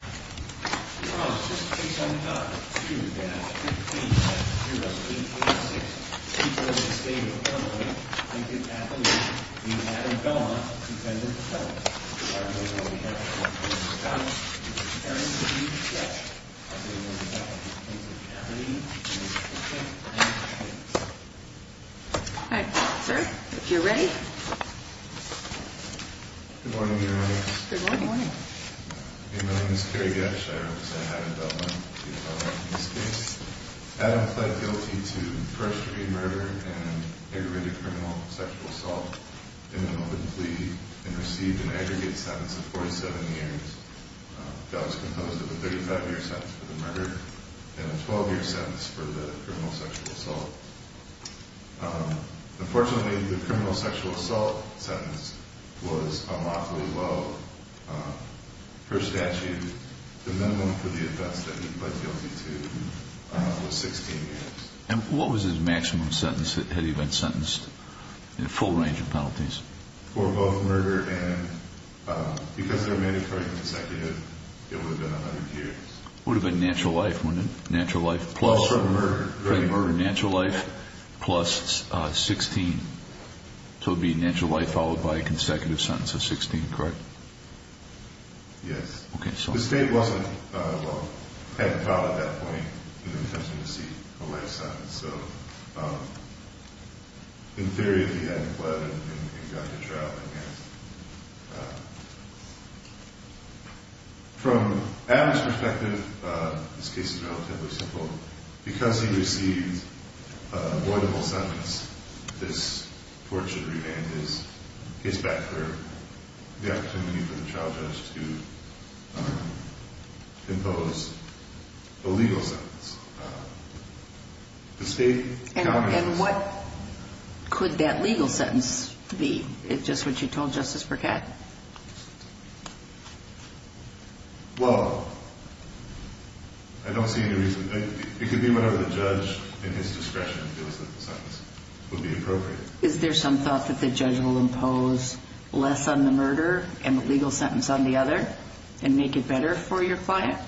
All right. Sir, if Good morning. Good morning. Good morning. My name is Kerry Getsch. I represent Adam Dutton. Adam pled guilty to first degree murder and aggravated criminal sexual assault in an open plea and received an aggregate sentence of 47 years. That was composed of a 35-year sentence for the murder and a 12-year sentence for the criminal sexual assault. Unfortunately, the criminal sexual assault sentence was unlawfully low per statute. The minimum for the offense that he pled guilty to was 16 years. And what was his maximum sentence? Had he been sentenced in a full range of penalties? For both murder and, because they're mandatory consecutive, it would have been 100 years. Would have been natural life, wouldn't it? Natural life plus? Also for murder. For the murder, natural life plus 16. So it would be natural life followed by a consecutive sentence of 16, correct? Yes. Okay, sorry. The state wasn't, well, hadn't filed at that point an intention to receive a life sentence. So, in theory, he hadn't pled and got to trial. From Adam's perspective, this case is relatively simple. Because he received an avoidable sentence, this fortunate remand is his backer, the opportunity for the trial judge to impose a legal sentence. The state counted this. And what could that legal sentence be? Just what you told Justice Burkett? Well, I don't see any reason. It could be whatever the judge, in his discretion, feels that the sentence would be appropriate. Is there some thought that the judge will impose less on the murder and a legal sentence on the other and make it better for your client?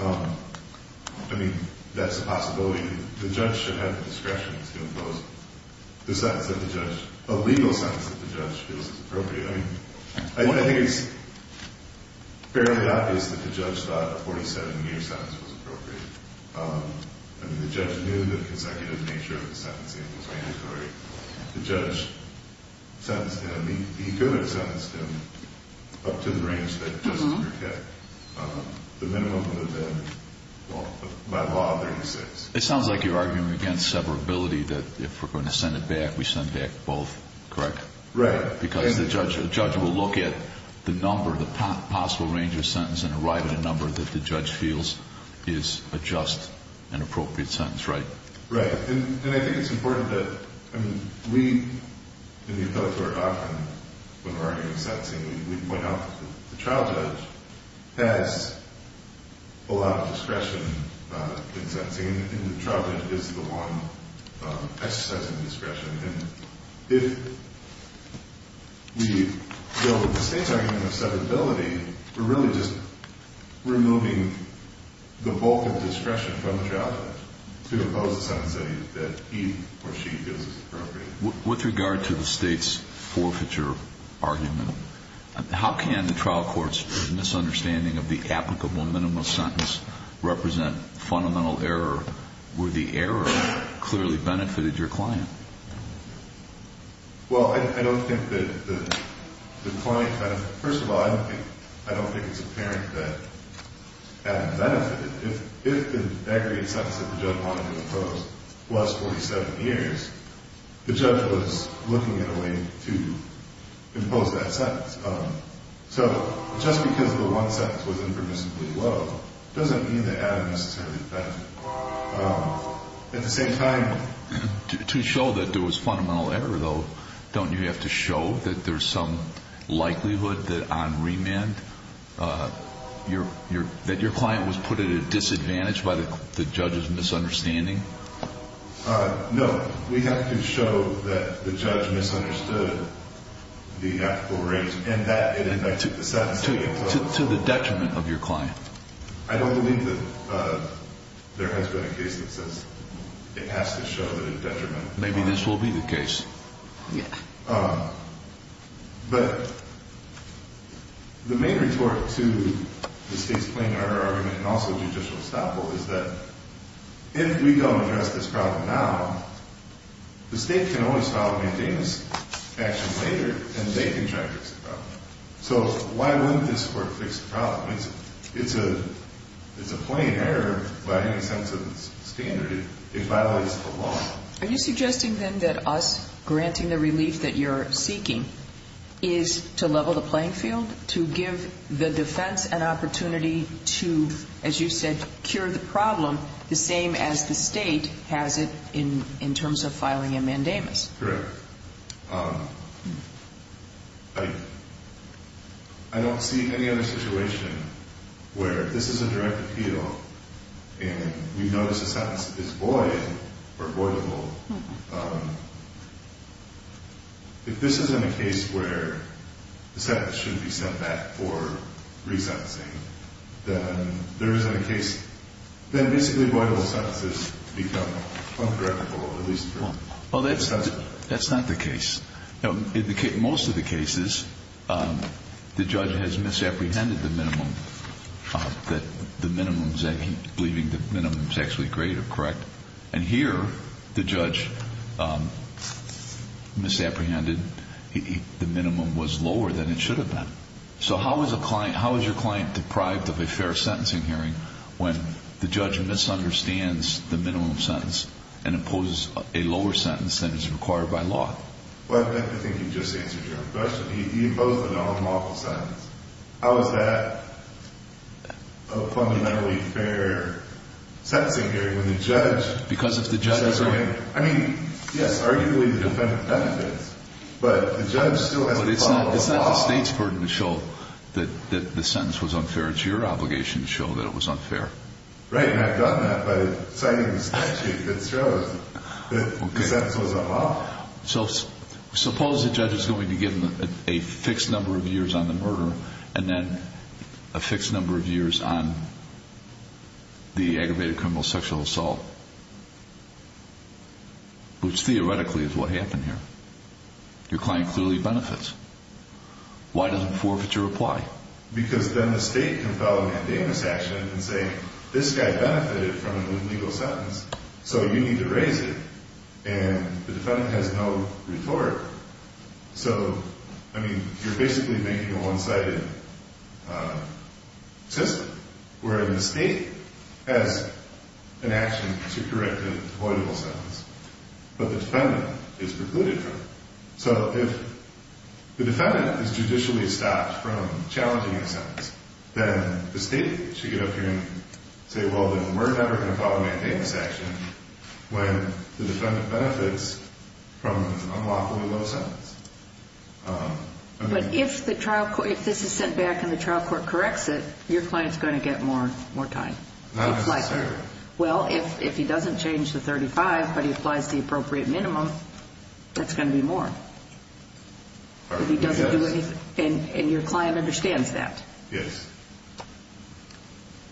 I mean, that's a possibility. I mean, the judge should have the discretion to impose the sentence that the judge, a legal sentence that the judge feels is appropriate. I mean, I think it's fairly obvious that the judge thought a 47-year sentence was appropriate. I mean, the judge knew the consecutive nature of the sentencing and the mandatory. The judge sentenced him. He could have sentenced him up to the range that Justice Burkett. The minimum would have been, by law, 36. It sounds like you're arguing against severability, that if we're going to send it back, we send back both, correct? Right. Because the judge will look at the number, the possible range of sentence and arrive at a number that the judge feels is a just and appropriate sentence, right? Right. And I think it's important that we in the appellate court often, when we're arguing sentencing, we point out the trial judge has a lot of discretion in sentencing, and the trial judge is the one exercising discretion. And if we deal with the state's argument of severability, we're really just removing the bulk of discretion from the trial judge to impose a sentence that he or she feels is appropriate. With regard to the state's forfeiture argument, how can the trial court's misunderstanding of the applicable minimum sentence represent fundamental error where the error clearly benefited your client? Well, I don't think that the client kind of – first of all, I don't think it's apparent that Adam benefited. If the aggregate sentence that the judge wanted to impose was 47 years, the judge was looking at a way to impose that sentence. So just because the one sentence was impermissibly low doesn't mean that Adam necessarily benefited. At the same time, to show that there was fundamental error, though, don't you have to show that there's some likelihood that on remand that your client was put at a disadvantage by the judge's misunderstanding? No. We have to show that the judge misunderstood the applicable rate and that it affected the sentence. To the detriment of your client. I don't believe that there has been a case that says it has to show that it detrimented the client. Maybe this will be the case. Yeah. But the main retort to the state's plain error argument and also judicial estoppel is that if we don't address this problem now, the state can always file a maintenance action later, and they can try to fix the problem. So why wouldn't this court fix the problem? It's a plain error by any sense of standard. It violates the law. Are you suggesting, then, that us granting the relief that you're seeking is to level the playing field, to give the defense an opportunity to, as you said, cure the problem, the same as the state has it in terms of filing a mandamus? Correct. I don't see any other situation where this is a direct appeal, and we've noticed the sentence is void or voidable. If this isn't a case where the sentence shouldn't be sent back for resentencing, then there isn't a case. Then basically voidable sentences become uncorrectable, at least for sentencing. Well, that's not the case. In most of the cases, the judge has misapprehended the minimum, that the minimum is actually greater, correct? And here, the judge misapprehended. The minimum was lower than it should have been. So how is your client deprived of a fair sentencing hearing when the judge misunderstands the minimum sentence and imposes a lower sentence than is required by law? I think you just answered your own question. You imposed an unlawful sentence. How is that a fundamentally fair sentencing hearing when the judge— Because if the judge— I mean, yes, arguably the defendant benefits, but the judge still has to follow the law. But it's not the state's burden to show that the sentence was unfair. It's your obligation to show that it was unfair. Right, and I've done that by citing the statute that shows that the sentence was unlawful. So suppose the judge is going to be given a fixed number of years on the murder and then a fixed number of years on the aggravated criminal sexual assault, which theoretically is what happened here. Your client clearly benefits. Why does it forfeit your reply? Because then the state can file a mandamus action and say, this guy benefited from an illegal sentence, so you need to raise it. And the defendant has no retort. So, I mean, you're basically making a one-sided system, where the state has an action to correct an avoidable sentence, but the defendant is precluded from it. So if the defendant is judicially stopped from challenging a sentence, then the state should get up here and say, well, then we're never going to file a mandamus action when the defendant benefits from an unlawfully low sentence. But if this is sent back and the trial court corrects it, your client's going to get more time. Not necessarily. Well, if he doesn't change the 35, but he applies the appropriate minimum, that's going to be more. If he doesn't do anything. And your client understands that. Yes.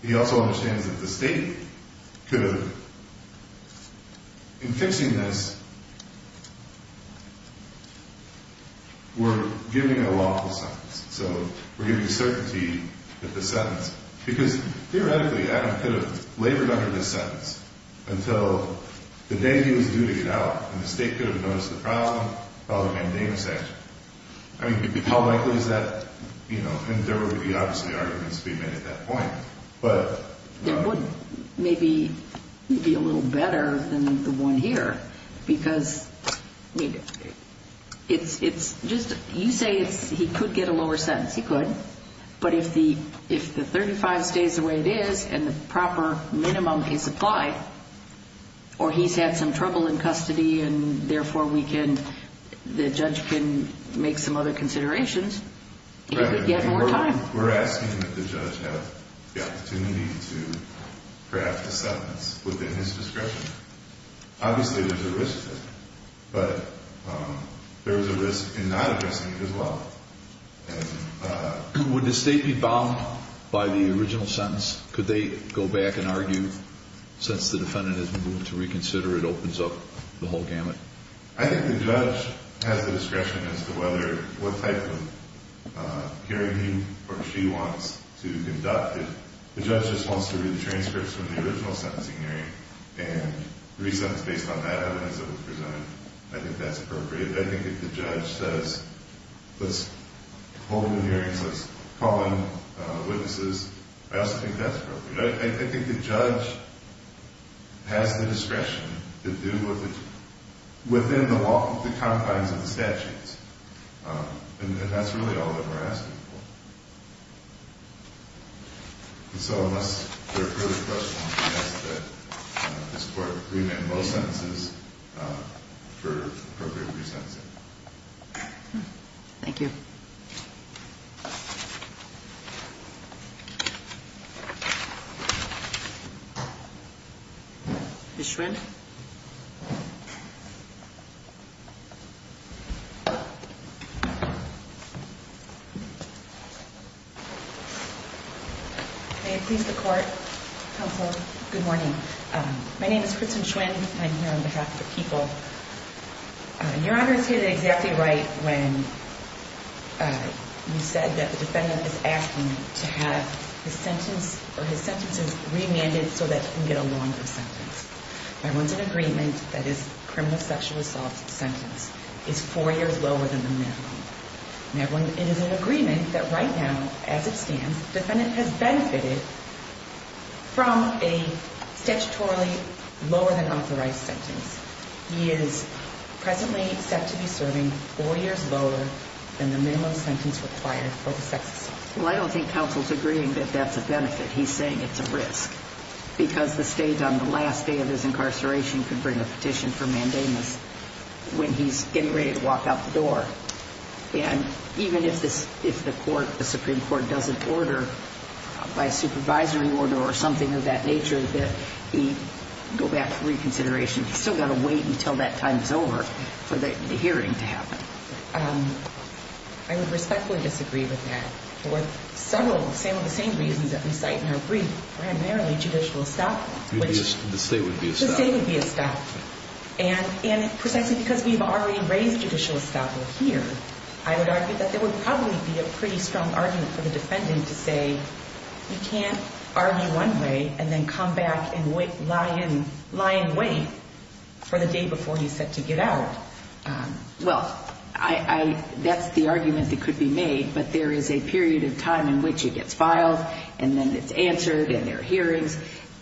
He also understands that the state could have, in fixing this, were giving a lawful sentence. So we're giving certainty at the sentence. Because theoretically, Adam could have labored under this sentence until the day he was due to get out, and the state could have noticed the problem, filed a mandamus action. I mean, how likely is that? And there would be obviously arguments to be made at that point. It would maybe be a little better than the one here, because you say he could get a lower sentence. He could. But if the 35 stays the way it is and the proper minimum is applied, or he's had some trouble in custody and therefore the judge can make some other considerations, he could get more time. We're asking that the judge have the opportunity to craft a sentence within his discretion. Obviously, there's a risk there. But there's a risk in not addressing it as well. Would the state be bound by the original sentence? Could they go back and argue, since the defendant has moved to reconsider it opens up the whole gamut? I think the judge has the discretion as to whether what type of hearing he or she wants to conduct it. The judge just wants to read the transcripts from the original sentencing hearing and re-sentence based on that evidence that was presented. I think that's appropriate. I think if the judge says, let's hold the hearings, let's call in witnesses, I also think that's appropriate. I think the judge has the discretion to do within the confines of the statutes. And that's really all that we're asking for. So unless there are further questions, I'll ask that this Court remit both sentences for appropriate re-sentencing. Thank you. Ms. Schwinn. May it please the Court, Counsel, good morning. My name is Kristen Schwinn. I'm here on behalf of the people. Your Honor is here exactly right when you said that the defendant is asking to have his sentence or his sentences remanded so that he can get a longer sentence. Everyone's in agreement that his criminal sexual assault sentence is four years lower than the minimum. Everyone is in agreement that right now, as it stands, the defendant has benefited from a statutorily lower than authorized sentence. He is presently set to be serving four years lower than the minimum sentence required for the sex assault. Well, I don't think Counsel's agreeing that that's a benefit. He's saying it's a risk because the State on the last day of his incarceration could bring a petition for mandamus when he's getting ready to walk out the door. And even if the Supreme Court doesn't order by a supervisory order or something of that nature that he go back for reconsideration, he's still got to wait until that time is over for the hearing to happen. I would respectfully disagree with that. For several, some of the same reasons that we cite in our brief, primarily judicial estoppel. The State would be estoppel. The State would be estoppel. And precisely because we've already raised judicial estoppel here, I would argue that there would probably be a pretty strong argument for the defendant to say, you can't argue one way and then come back and lie in wait for the day before he's set to get out. Well, that's the argument that could be made, but there is a period of time in which it gets filed and then it's answered in their hearings.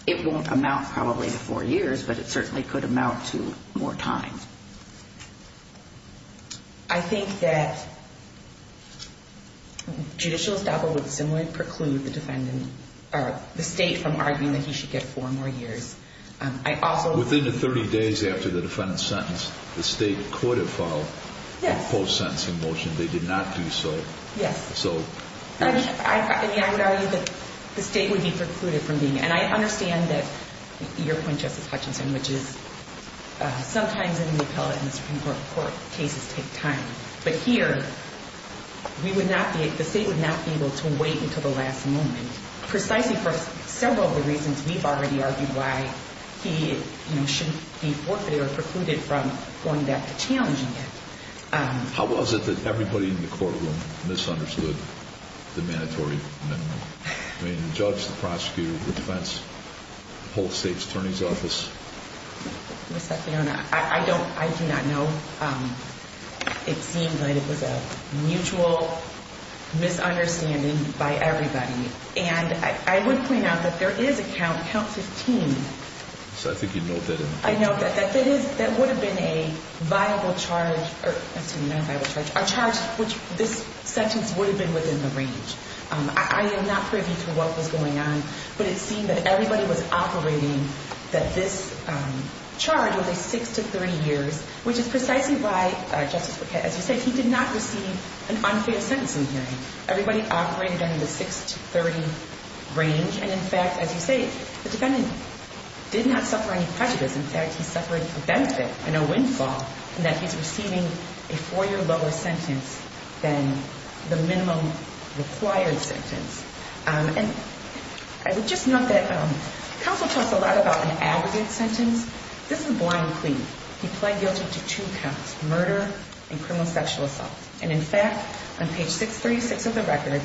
It won't amount probably to four years, but it certainly could amount to more time. I think that judicial estoppel would similarly preclude the State from arguing that he should get four more years. Within the 30 days after the defendant's sentence, the State could have filed a post-sentencing motion. They did not do so. Yes. I would argue that the State would be precluded from being. And I understand that your point, Justice Hutchinson, which is sometimes in the appellate and the Supreme Court cases take time. But here, the State would not be able to wait until the last moment, precisely for several of the reasons we've already argued why he shouldn't be forfeited or precluded from going back to challenging it. How was it that everybody in the courtroom misunderstood the mandatory minimum? I mean, the judge, the prosecutor, the defense, the whole State's attorney's office? Ms. Santillana, I do not know. It seemed like it was a mutual misunderstanding by everybody. And I would point out that there is a count, count 15. So I think you know that. I know that. That would have been a viable charge, which this sentence would have been within the range. I am not privy to what was going on. But it seemed that everybody was operating that this charge would be six to 30 years, which is precisely why, Justice Bouquet, as you say, he did not receive an unfair sentencing hearing. Everybody operated under the six to 30 range. And, in fact, as you say, the defendant did not suffer any prejudice. In fact, he suffered a benefit and a windfall in that he's receiving a four-year lower sentence than the minimum required sentence. And I would just note that counsel talks a lot about an aggregate sentence. This is a blind plea. He pled guilty to two counts, murder and criminal sexual assault. And, in fact, on page 636 of the record,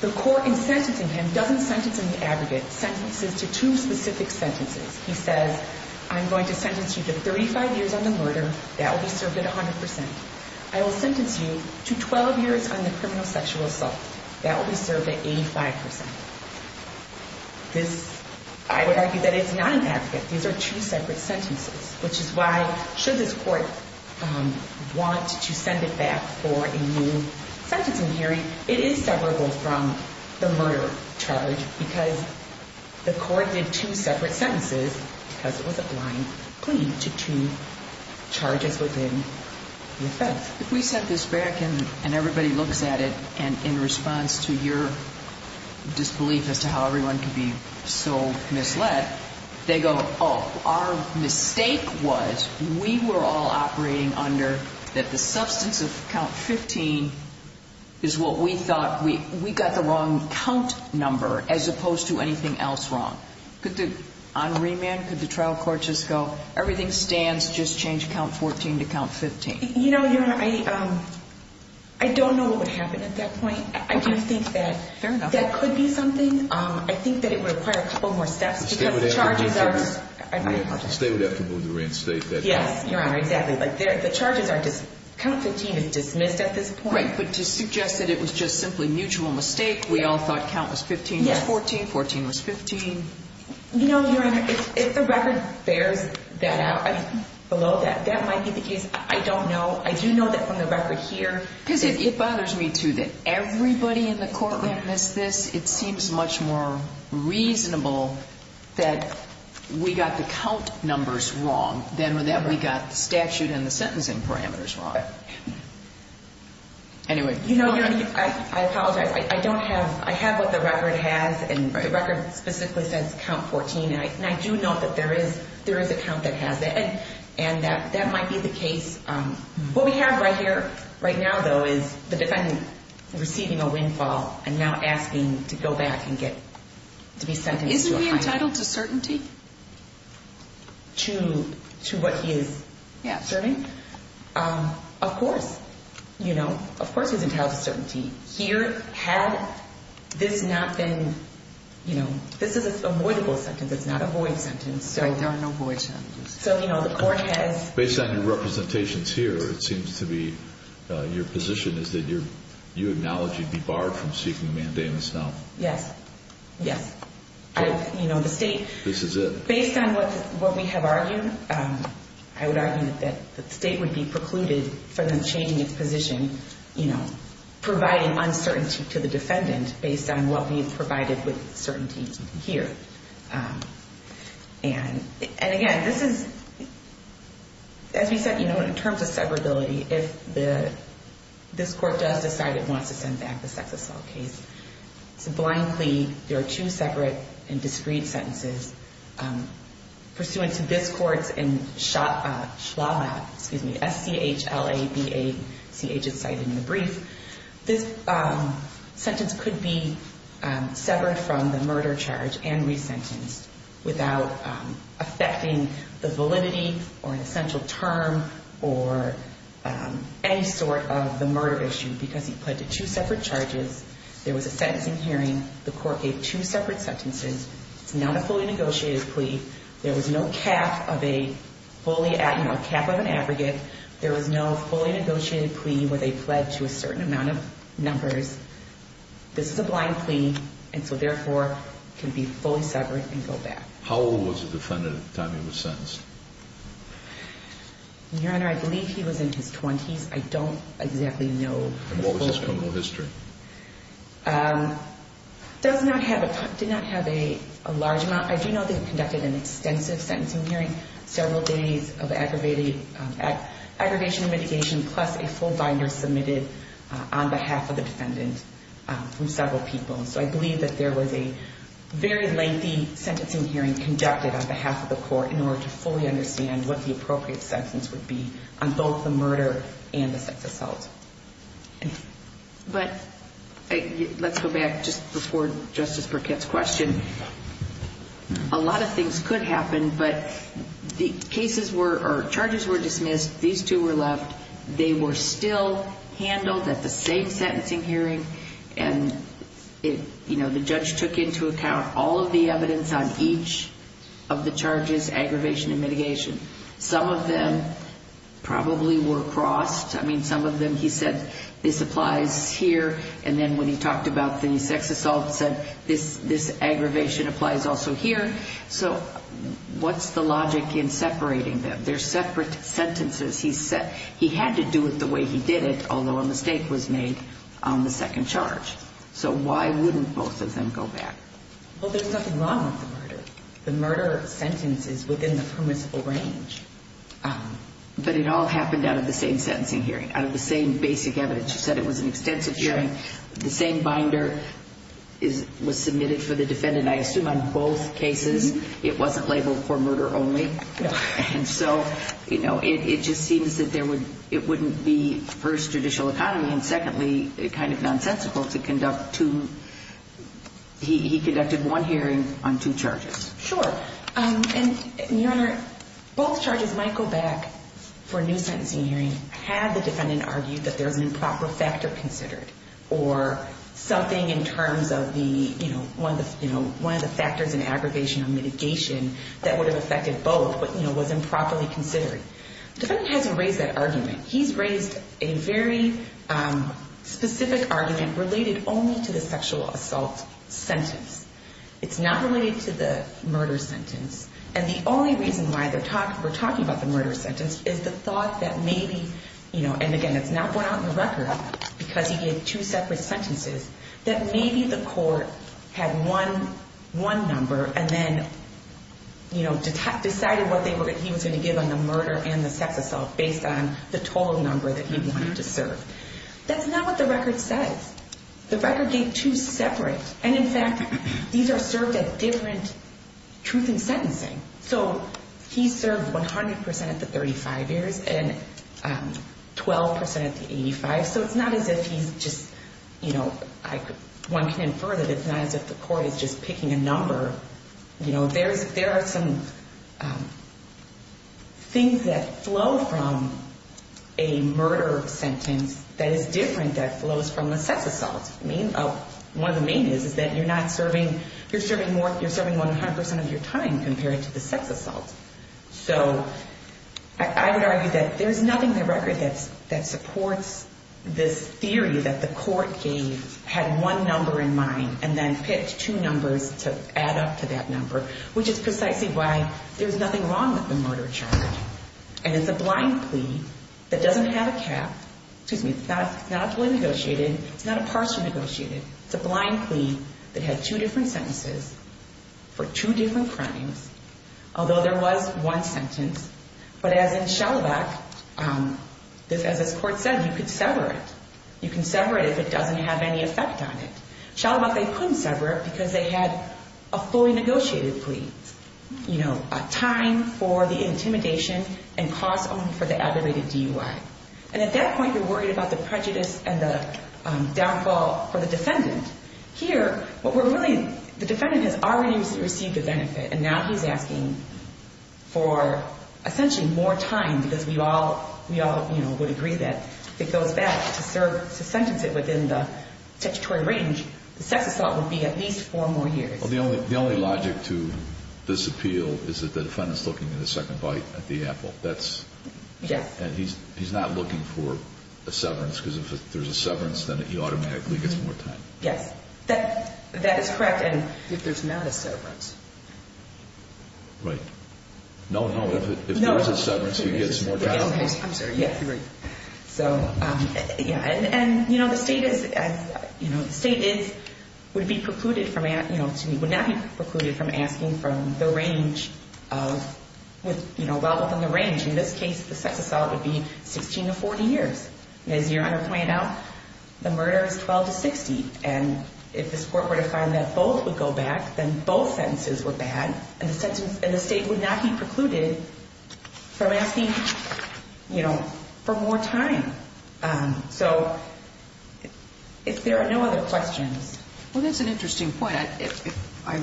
the court in sentencing him doesn't sentence in the aggregate sentences to two specific sentences. He says, I'm going to sentence you to 35 years on the murder. That will be served at 100 percent. I will sentence you to 12 years on the criminal sexual assault. That will be served at 85 percent. This, I would argue that it's not an aggregate. These are two separate sentences, which is why should this court want to send it back for a new sentencing hearing, it is separable from the murder charge because the court did two separate sentences because it was a blind plea to two charges within the offense. If we set this back and everybody looks at it, and in response to your disbelief as to how everyone can be so misled, that they go, oh, our mistake was we were all operating under that the substance of count 15 is what we thought. We got the wrong count number as opposed to anything else wrong. On remand, could the trial court just go, everything stands, just change count 14 to count 15? You know, Your Honor, I don't know what would happen at that point. I do think that that could be something. I think that it would require a couple more steps because the charges are. The state would have to move the reinstate that. Yes, Your Honor, exactly. The charges are just, count 15 is dismissed at this point. Right, but to suggest that it was just simply mutual mistake, we all thought count was 15 was 14, 14 was 15. You know, Your Honor, if the record bears that out, below that, that might be the case. I don't know. I do know that from the record here. Because it bothers me, too, that everybody in the court witnessed this. It seems much more reasonable that we got the count numbers wrong than that we got the statute and the sentencing parameters wrong. Anyway. You know, Your Honor, I apologize. I don't have, I have what the record has, and the record specifically says count 14, and I do note that there is a count that has that, and that might be the case. What we have right here, right now, though, is the defendant receiving a windfall and now asking to go back and get, to be sentenced to a high sentence. Isn't he entitled to certainty? To what he is serving? Yes. Of course, you know, of course he's entitled to certainty. Here, had this not been, you know, this is an avoidable sentence. It's not a void sentence. Right, there are no void sentences. So, you know, the court has. Based on your representations here, it seems to be your position is that you acknowledge he'd be barred from seeking a mandamus now. Yes. Yes. You know, the state. This is it. Based on what we have argued, I would argue that the state would be precluded from changing its position, you know, providing uncertainty to the defendant based on what we've provided with certainty here. And, again, this is, as we said, you know, in terms of severability, if this court does decide it wants to send back the sex assault case, it's a blind plea. There are two separate and discreet sentences. Pursuant to this court's and SHLABA, excuse me, S-C-H-L-A-B-A, CH is cited in the brief, this sentence could be severed from the murder charge and resentenced without affecting the validity or an essential term or any sort of the murder issue because he pled to two separate charges. There was a sentencing hearing. The court gave two separate sentences. It's not a fully negotiated plea. There was no cap of an aggregate. There was no fully negotiated plea where they pled to a certain amount of numbers. This is a blind plea and so, therefore, can be fully severed and go back. How old was the defendant at the time he was sentenced? Your Honor, I believe he was in his 20s. I don't exactly know. And what was his criminal history? Does not have a – did not have a large amount. I do know they conducted an extensive sentencing hearing, several days of aggravation and mitigation, plus a full binder submitted on behalf of the defendant from several people. So I believe that there was a very lengthy sentencing hearing conducted on behalf of the court in order to fully understand what the appropriate sentence would be on both the murder and the sex assault. But let's go back just before Justice Burkett's question. A lot of things could happen, but the cases were – or charges were dismissed. These two were left. They were still handled at the same sentencing hearing. And, you know, the judge took into account all of the evidence on each of the charges, aggravation and mitigation. Some of them probably were crossed. I mean, some of them he said this applies here. And then when he talked about the sex assault, said this aggravation applies also here. So what's the logic in separating them? They're separate sentences. He had to do it the way he did it, although a mistake was made on the second charge. So why wouldn't both of them go back? Well, there's nothing wrong with the murder. The murder sentence is within the permissible range. But it all happened out of the same sentencing hearing, out of the same basic evidence. You said it was an extensive hearing. The same binder was submitted for the defendant, I assume, on both cases. It wasn't labeled for murder only. No. And so, you know, it just seems that it wouldn't be, first, judicial economy, and secondly, kind of nonsensical to conduct two – he conducted one hearing on two charges. Sure. And, Your Honor, both charges might go back for a new sentencing hearing had the defendant argued that there was an improper factor considered or something in terms of the, you know, one of the factors in aggravation or mitigation that would have affected both, but, you know, was improperly considered. The defendant hasn't raised that argument. He's raised a very specific argument related only to the sexual assault sentence. It's not related to the murder sentence. And the only reason why we're talking about the murder sentence is the thought that maybe, you know, and, again, it's not brought out in the record because he gave two separate sentences, that maybe the court had one number and then, you know, decided what he was going to give on the murder and the sex assault based on the total number that he wanted to serve. That's not what the record says. The record gave two separate. And, in fact, these are served at different truth in sentencing. So he served 100% at the 35 years and 12% at the 85. So it's not as if he's just, you know, one can infer that it's not as if the court is just picking a number. You know, there are some things that flow from a murder sentence that is different that flows from a sex assault. One of the main is that you're serving 100% of your time compared to the sex assault. So I would argue that there's nothing in the record that supports this theory that the court gave, had one number in mind, and then picked two numbers to add up to that number, which is precisely why there's nothing wrong with the murder charge. And it's a blind plea that doesn't have a cap. Excuse me, it's not a fully negotiated. It's not a partially negotiated. It's a blind plea that had two different sentences for two different crimes, although there was one sentence. But as in Shalabach, as this court said, you could sever it. You can sever it if it doesn't have any effect on it. Shalabach, they couldn't sever it because they had a fully negotiated plea, you know, a time for the intimidation and cause only for the aggravated DUI. And at that point, you're worried about the prejudice and the downfall for the defendant. Here, what we're really ñ the defendant has already received the benefit, and now he's asking for essentially more time because we all, you know, would agree that if it goes back to sentence it within the statutory range, the sex assault would be at least four more years. Well, the only logic to this appeal is that the defendant's looking at the second bite at the apple. That's ñ Yes. And he's not looking for a severance because if there's a severance, then he automatically gets more time. Yes, that is correct. If there's not a severance. Right. No, no. If there is a severance, he gets more time. I'm sorry, yes. You're right. So, yeah. And, you know, the state is ñ you know, the state is ñ would be precluded from ñ you know, would not be precluded from asking from the range of ñ you know, well within the range. In this case, the sex assault would be 16 to 40 years. As Your Honor pointed out, the murder is 12 to 60. And if this Court were to find that both would go back, then both sentences were bad, and the state would not be precluded from asking, you know, for more time. So if there are no other questions. Well, that's an interesting point. I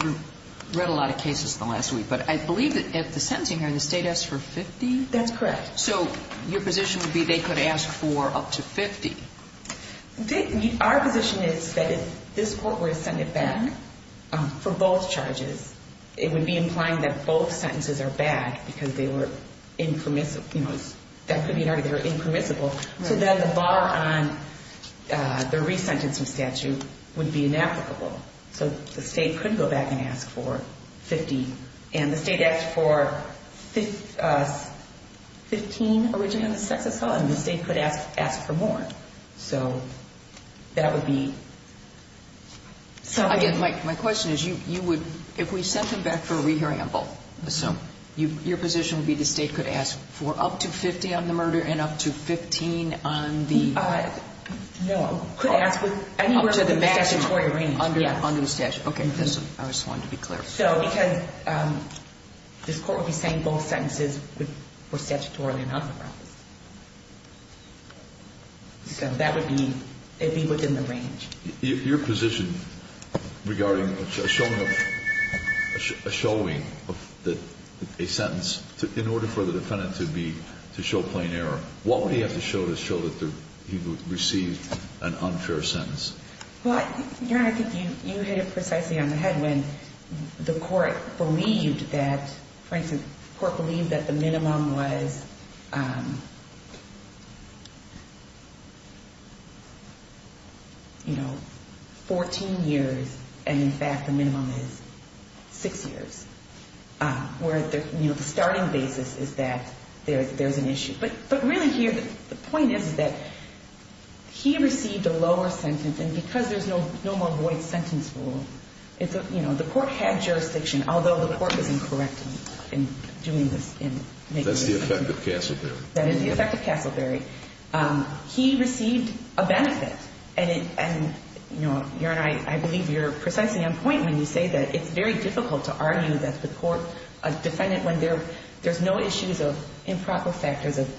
read a lot of cases the last week, but I believe that if the sentencing ñ the state asks for 50? That's correct. So your position would be they could ask for up to 50? Our position is that if this Court were to send it back for both charges, it would be implying that both sentences are bad because they were impermissible. So then the bar on the resentencing statute would be inapplicable. So the state could go back and ask for 50. And the state asked for 15 original sex assault, and the state could ask for more. So that would be something. Again, my question is you would ñ if we sent them back for a re-haramble, so your position would be the state could ask for up to 50 on the murder and up to 15 on the ñ No, it could ask for anywhere in the statutory range. Under the statute. Okay. I just wanted to be clear. So because this Court would be saying both sentences were statutorily noncommercial. So that would be ñ it would be within the range. Your position regarding a showing of a sentence in order for the defendant to be ñ to show plain error, what would he have to show to show that he received an unfair sentence? Well, Your Honor, I think you hit it precisely on the head when the Court believed that, for instance, the Court believed that the minimum was, you know, 14 years. And, in fact, the minimum is six years. Where, you know, the starting basis is that there is an issue. But really here, the point is that he received a lower sentence. And because there's no more void sentence rule, it's a ñ you know, the Court had jurisdiction, although the Court was incorrect in doing this in making the decision. That's the effect of Castleberry. That is the effect of Castleberry. He received a benefit. And, you know, Your Honor, I believe you're precisely on point when you say that it's very difficult to argue a defendant when there's no issues of improper factors of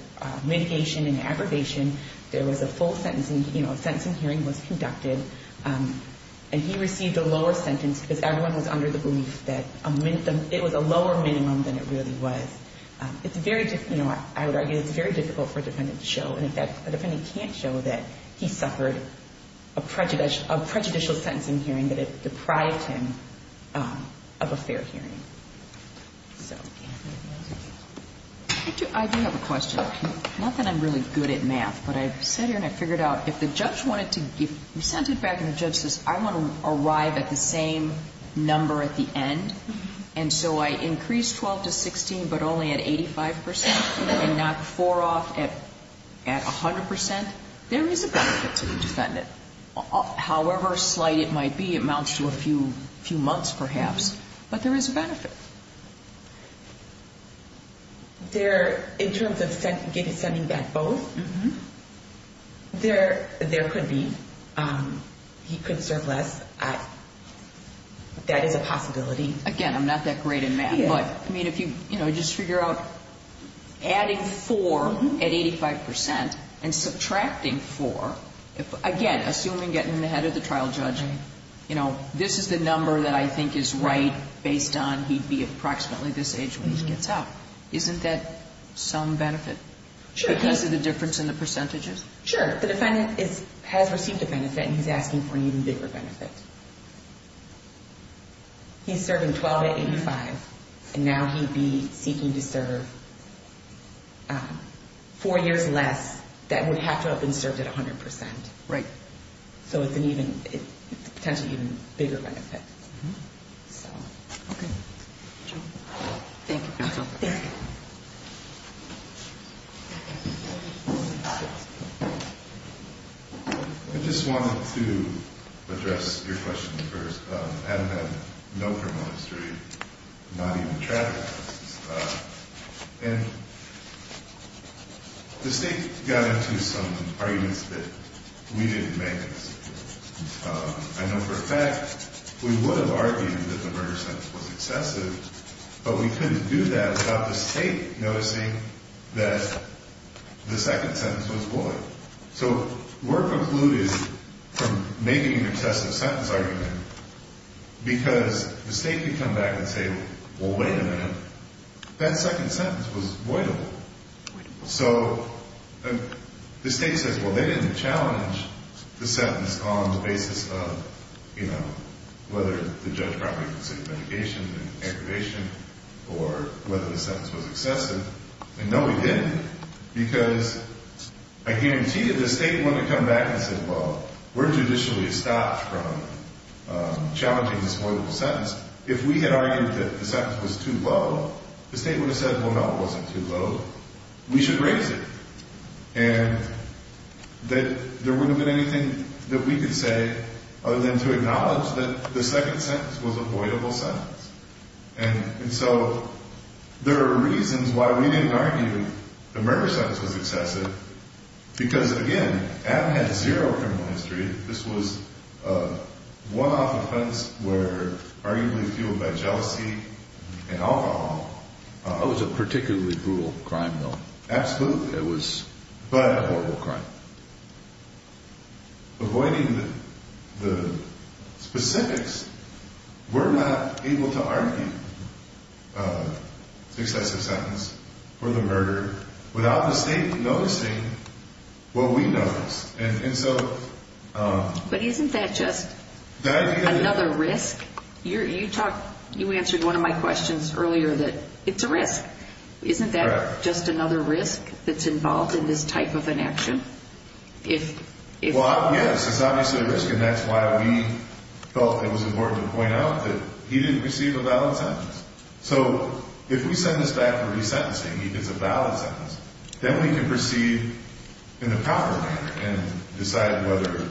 mitigation and aggravation. There was a full sentence. And, you know, a sentencing hearing was conducted. And he received a lower sentence because everyone was under the belief that a minimum ñ it was a lower minimum than it really was. It's very ñ you know, I would argue it's very difficult for a defendant to show. And, in fact, a defendant can't show that he suffered a prejudicial sentence in hearing, that it deprived him of a fair hearing. So, yeah. I do have a question. Not that I'm really good at math, but I've sat here and I've figured out if the judge wanted to give ñ we sent it back and the judge says, I want to arrive at the same number at the end, and so I increase 12 to 16 but only at 85 percent and knock 4 off at 100 percent, there is a benefit to the defendant. However slight it might be, it amounts to a few months perhaps, but there is a benefit. There ñ in terms of sending back both, there could be ñ he could serve less. That is a possibility. Again, I'm not that great in math, but, I mean, if you, you know, just figure out adding 4 at 85 percent and subtracting 4, again, assuming getting in the head of the trial judge, you know, this is the number that I think is right based on he'd be approximately this age when he gets out. Isn't that some benefit? Sure. Because of the difference in the percentages? Sure. The defendant has received a benefit and he's asking for an even bigger benefit. He's serving 12 at 85 and now he'd be seeking to serve 4 years less that would have to have been served at 100 percent. Right. So it's an even ñ it's a potentially even bigger benefit. Okay. Thank you. You're welcome. I just wanted to address your question first. Adam had no criminal history, not even traffic. And the State got into some arguments that we didn't make. I know for a fact we would have argued that the murder sentence was excessive, but we couldn't do that without the State noticing that the second sentence was void. So we're precluded from making an excessive sentence argument because the State could come back and say, well, wait a minute, that second sentence was voidable. So the State says, well, they didn't challenge the sentence on the basis of, you know, whether the judge probably considered medication and aggravation or whether the sentence was excessive. And no, we didn't because I guarantee you the State wouldn't have come back and said, well, we're judicially stopped from challenging this voidable sentence. If we had argued that the sentence was too low, the State would have said, well, no, it wasn't too low. We should raise it. And that there wouldn't have been anything that we could say other than to acknowledge that the second sentence was a voidable sentence. And so there are reasons why we didn't argue the murder sentence was excessive because, again, Adam had zero criminal history. This was a one-off offense where arguably fueled by jealousy and alcohol. It was a particularly brutal crime, though. Absolutely. It was a horrible crime. Avoiding the specifics, we're not able to argue the excessive sentence for the murder without the State noticing what we noticed. But isn't that just another risk? You answered one of my questions earlier that it's a risk. Isn't that just another risk that's involved in this type of an action? Well, yes, it's obviously a risk, and that's why we felt it was important to point out that he didn't receive a valid sentence. So if we send this back for resentencing, he gets a valid sentence, then we can proceed in the proper manner and decide whether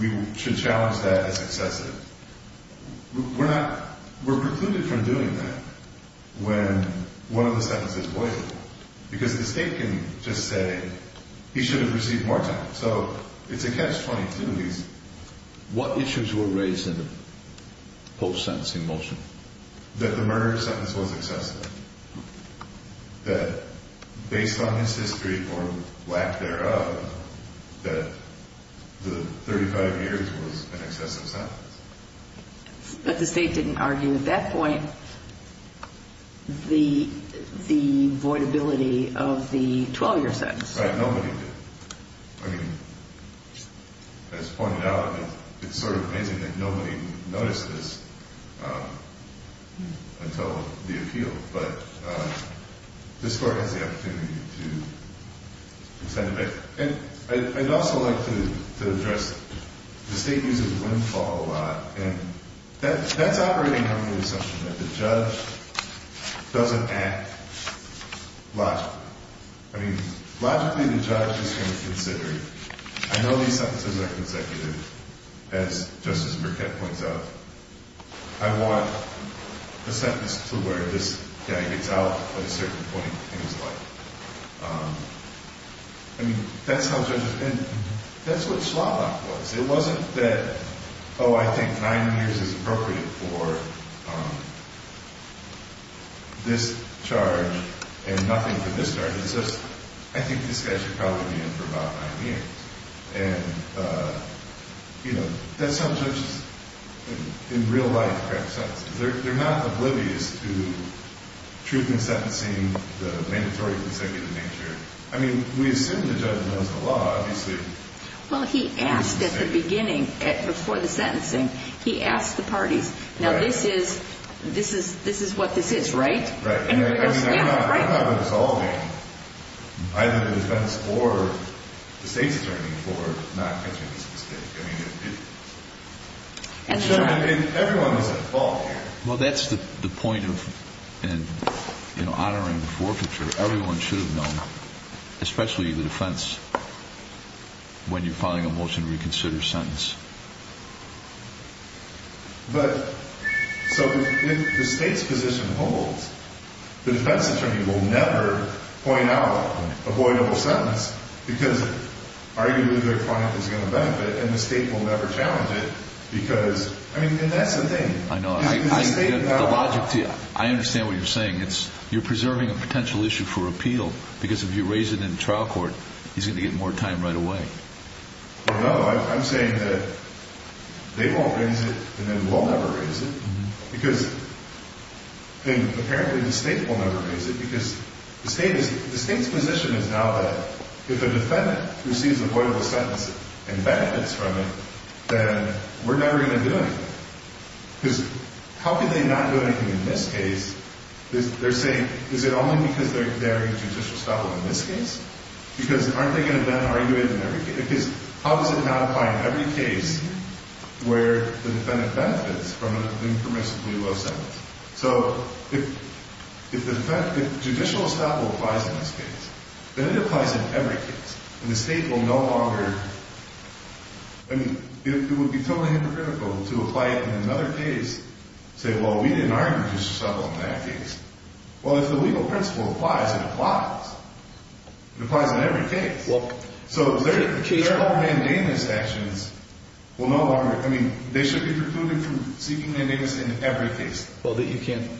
we should challenge that as excessive. We're precluded from doing that when one of the sentences is voidable because the State can just say he shouldn't receive more time. So it's a catch-22. What issues were raised in the post-sentencing motion? That the murder sentence was excessive. That based on his history or lack thereof, that the 35 years was an excessive sentence. But the State didn't argue at that point the voidability of the 12-year sentence. Right, nobody did. I mean, as pointed out, it's sort of amazing that nobody noticed this until the appeal. But this Court has the opportunity to extend it. And I'd also like to address the State uses windfall a lot. And that's operating under the assumption that the judge doesn't act logically. I mean, logically, the judge is going to consider it. I know these sentences are consecutive, as Justice Burkett points out. I want a sentence to where this guy gets out at a certain point in his life. I mean, that's how judges think. That's what slot-lock was. It wasn't that, oh, I think nine years is appropriate for this charge and nothing for this charge. It's just, I think this guy should probably be in for about nine years. And, you know, that's how judges in real life grab sentences. They're not oblivious to truth in sentencing, the mandatory consecutive nature. I mean, we assume the judge knows the law, obviously. Well, he asked at the beginning, before the sentencing, he asked the parties. Now, this is what this is, right? Right. I mean, they're not resolving either the defense or the State's attorney for not catching this mistake. I mean, everyone was at fault here. Well, that's the point of honoring the forfeiture. Everyone should have known, especially the defense, when you're filing a motion to reconsider a sentence. But so if the State's position holds, the defense attorney will never point out avoidable sentence because arguably their client is going to benefit, and the State will never challenge it because, I mean, and that's the thing. I know. I understand what you're saying. You're preserving a potential issue for appeal because if you raise it in trial court, he's going to get more time right away. Well, no. I'm saying that they won't raise it and then we'll never raise it because then apparently the State will never raise it because the State's position is now that if a defendant receives avoidable sentence and benefits from it, then we're never going to do anything because how could they not do anything in this case? They're saying, is it only because they're in judicial estoppel in this case? Because aren't they going to then argue it in every case? How does it not apply in every case where the defendant benefits from an impermissibly low sentence? So if judicial estoppel applies in this case, then it applies in every case, and the State will no longer. I mean, it would be totally hypocritical to apply it in another case, say, well, we didn't argue judicial estoppel in that case. Well, if the legal principle applies, it applies. It applies in every case. So their whole mandamus actions will no longer. I mean, they should be precluded from seeking mandamus in every case. Well, you can't.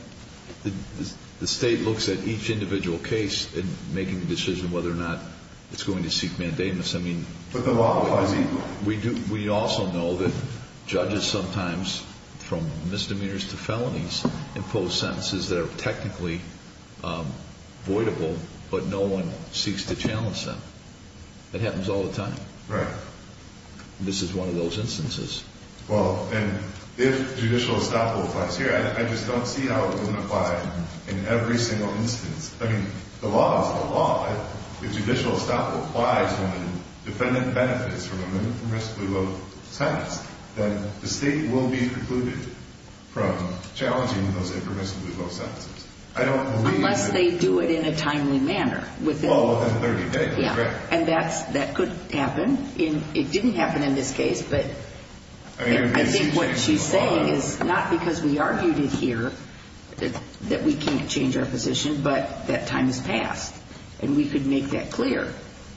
The State looks at each individual case and making a decision whether or not it's going to seek mandamus. I mean, we also know that judges sometimes, from misdemeanors to felonies, impose sentences that are technically voidable, but no one seeks to challenge them. That happens all the time. Right. This is one of those instances. Well, and if judicial estoppel applies here, I just don't see how it wouldn't apply in every single instance. I mean, the law is the law. If judicial estoppel applies when the defendant benefits from a non-permissibly low sentence, then the State will be precluded from challenging those impermissibly low sentences. I don't believe that. Unless they do it in a timely manner. Well, within 30 days. Yeah. And that could happen. It didn't happen in this case, but I think what she's saying is not because we argued it here that we can't change our position, but that time has passed, and we could make that clear.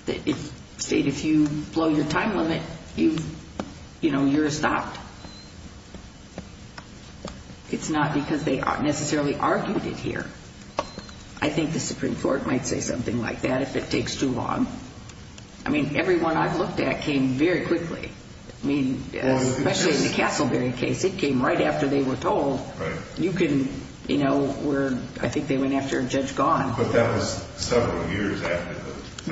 The State, if you blow your time limit, you're stopped. It's not because they necessarily argued it here. I think the Supreme Court might say something like that if it takes too long. I mean, every one I've looked at came very quickly. I mean, especially in the Castleberry case, it came right after they were told. You can, you know, I think they went after a judge gone. But that was several years after.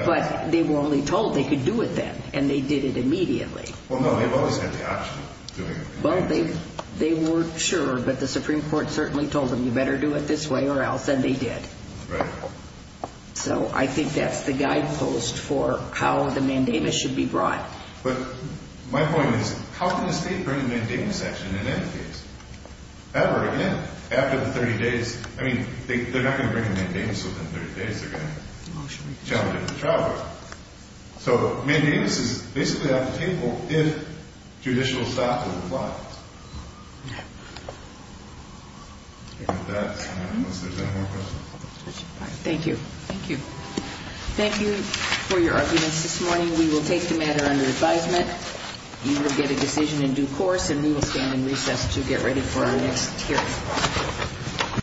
But they were only told they could do it then, and they did it immediately. Well, no, they've always had the option of doing it. Well, they weren't sure, but the Supreme Court certainly told them you better do it this way or else, and they did. Right. So I think that's the guidepost for how the mandamus should be brought. But my point is, how can the State bring a mandamus action in any case? Ever again, after the 30 days. I mean, they're not going to bring a mandamus within 30 days. They're going to challenge it in the trial court. So mandamus is basically off the table if judicial style is applied. Yeah. And with that, unless there's any more questions. Thank you. Thank you. Thank you for your arguments this morning. We will take the matter under advisement. You will get a decision in due course, and we will stand in recess to get ready for our next hearing.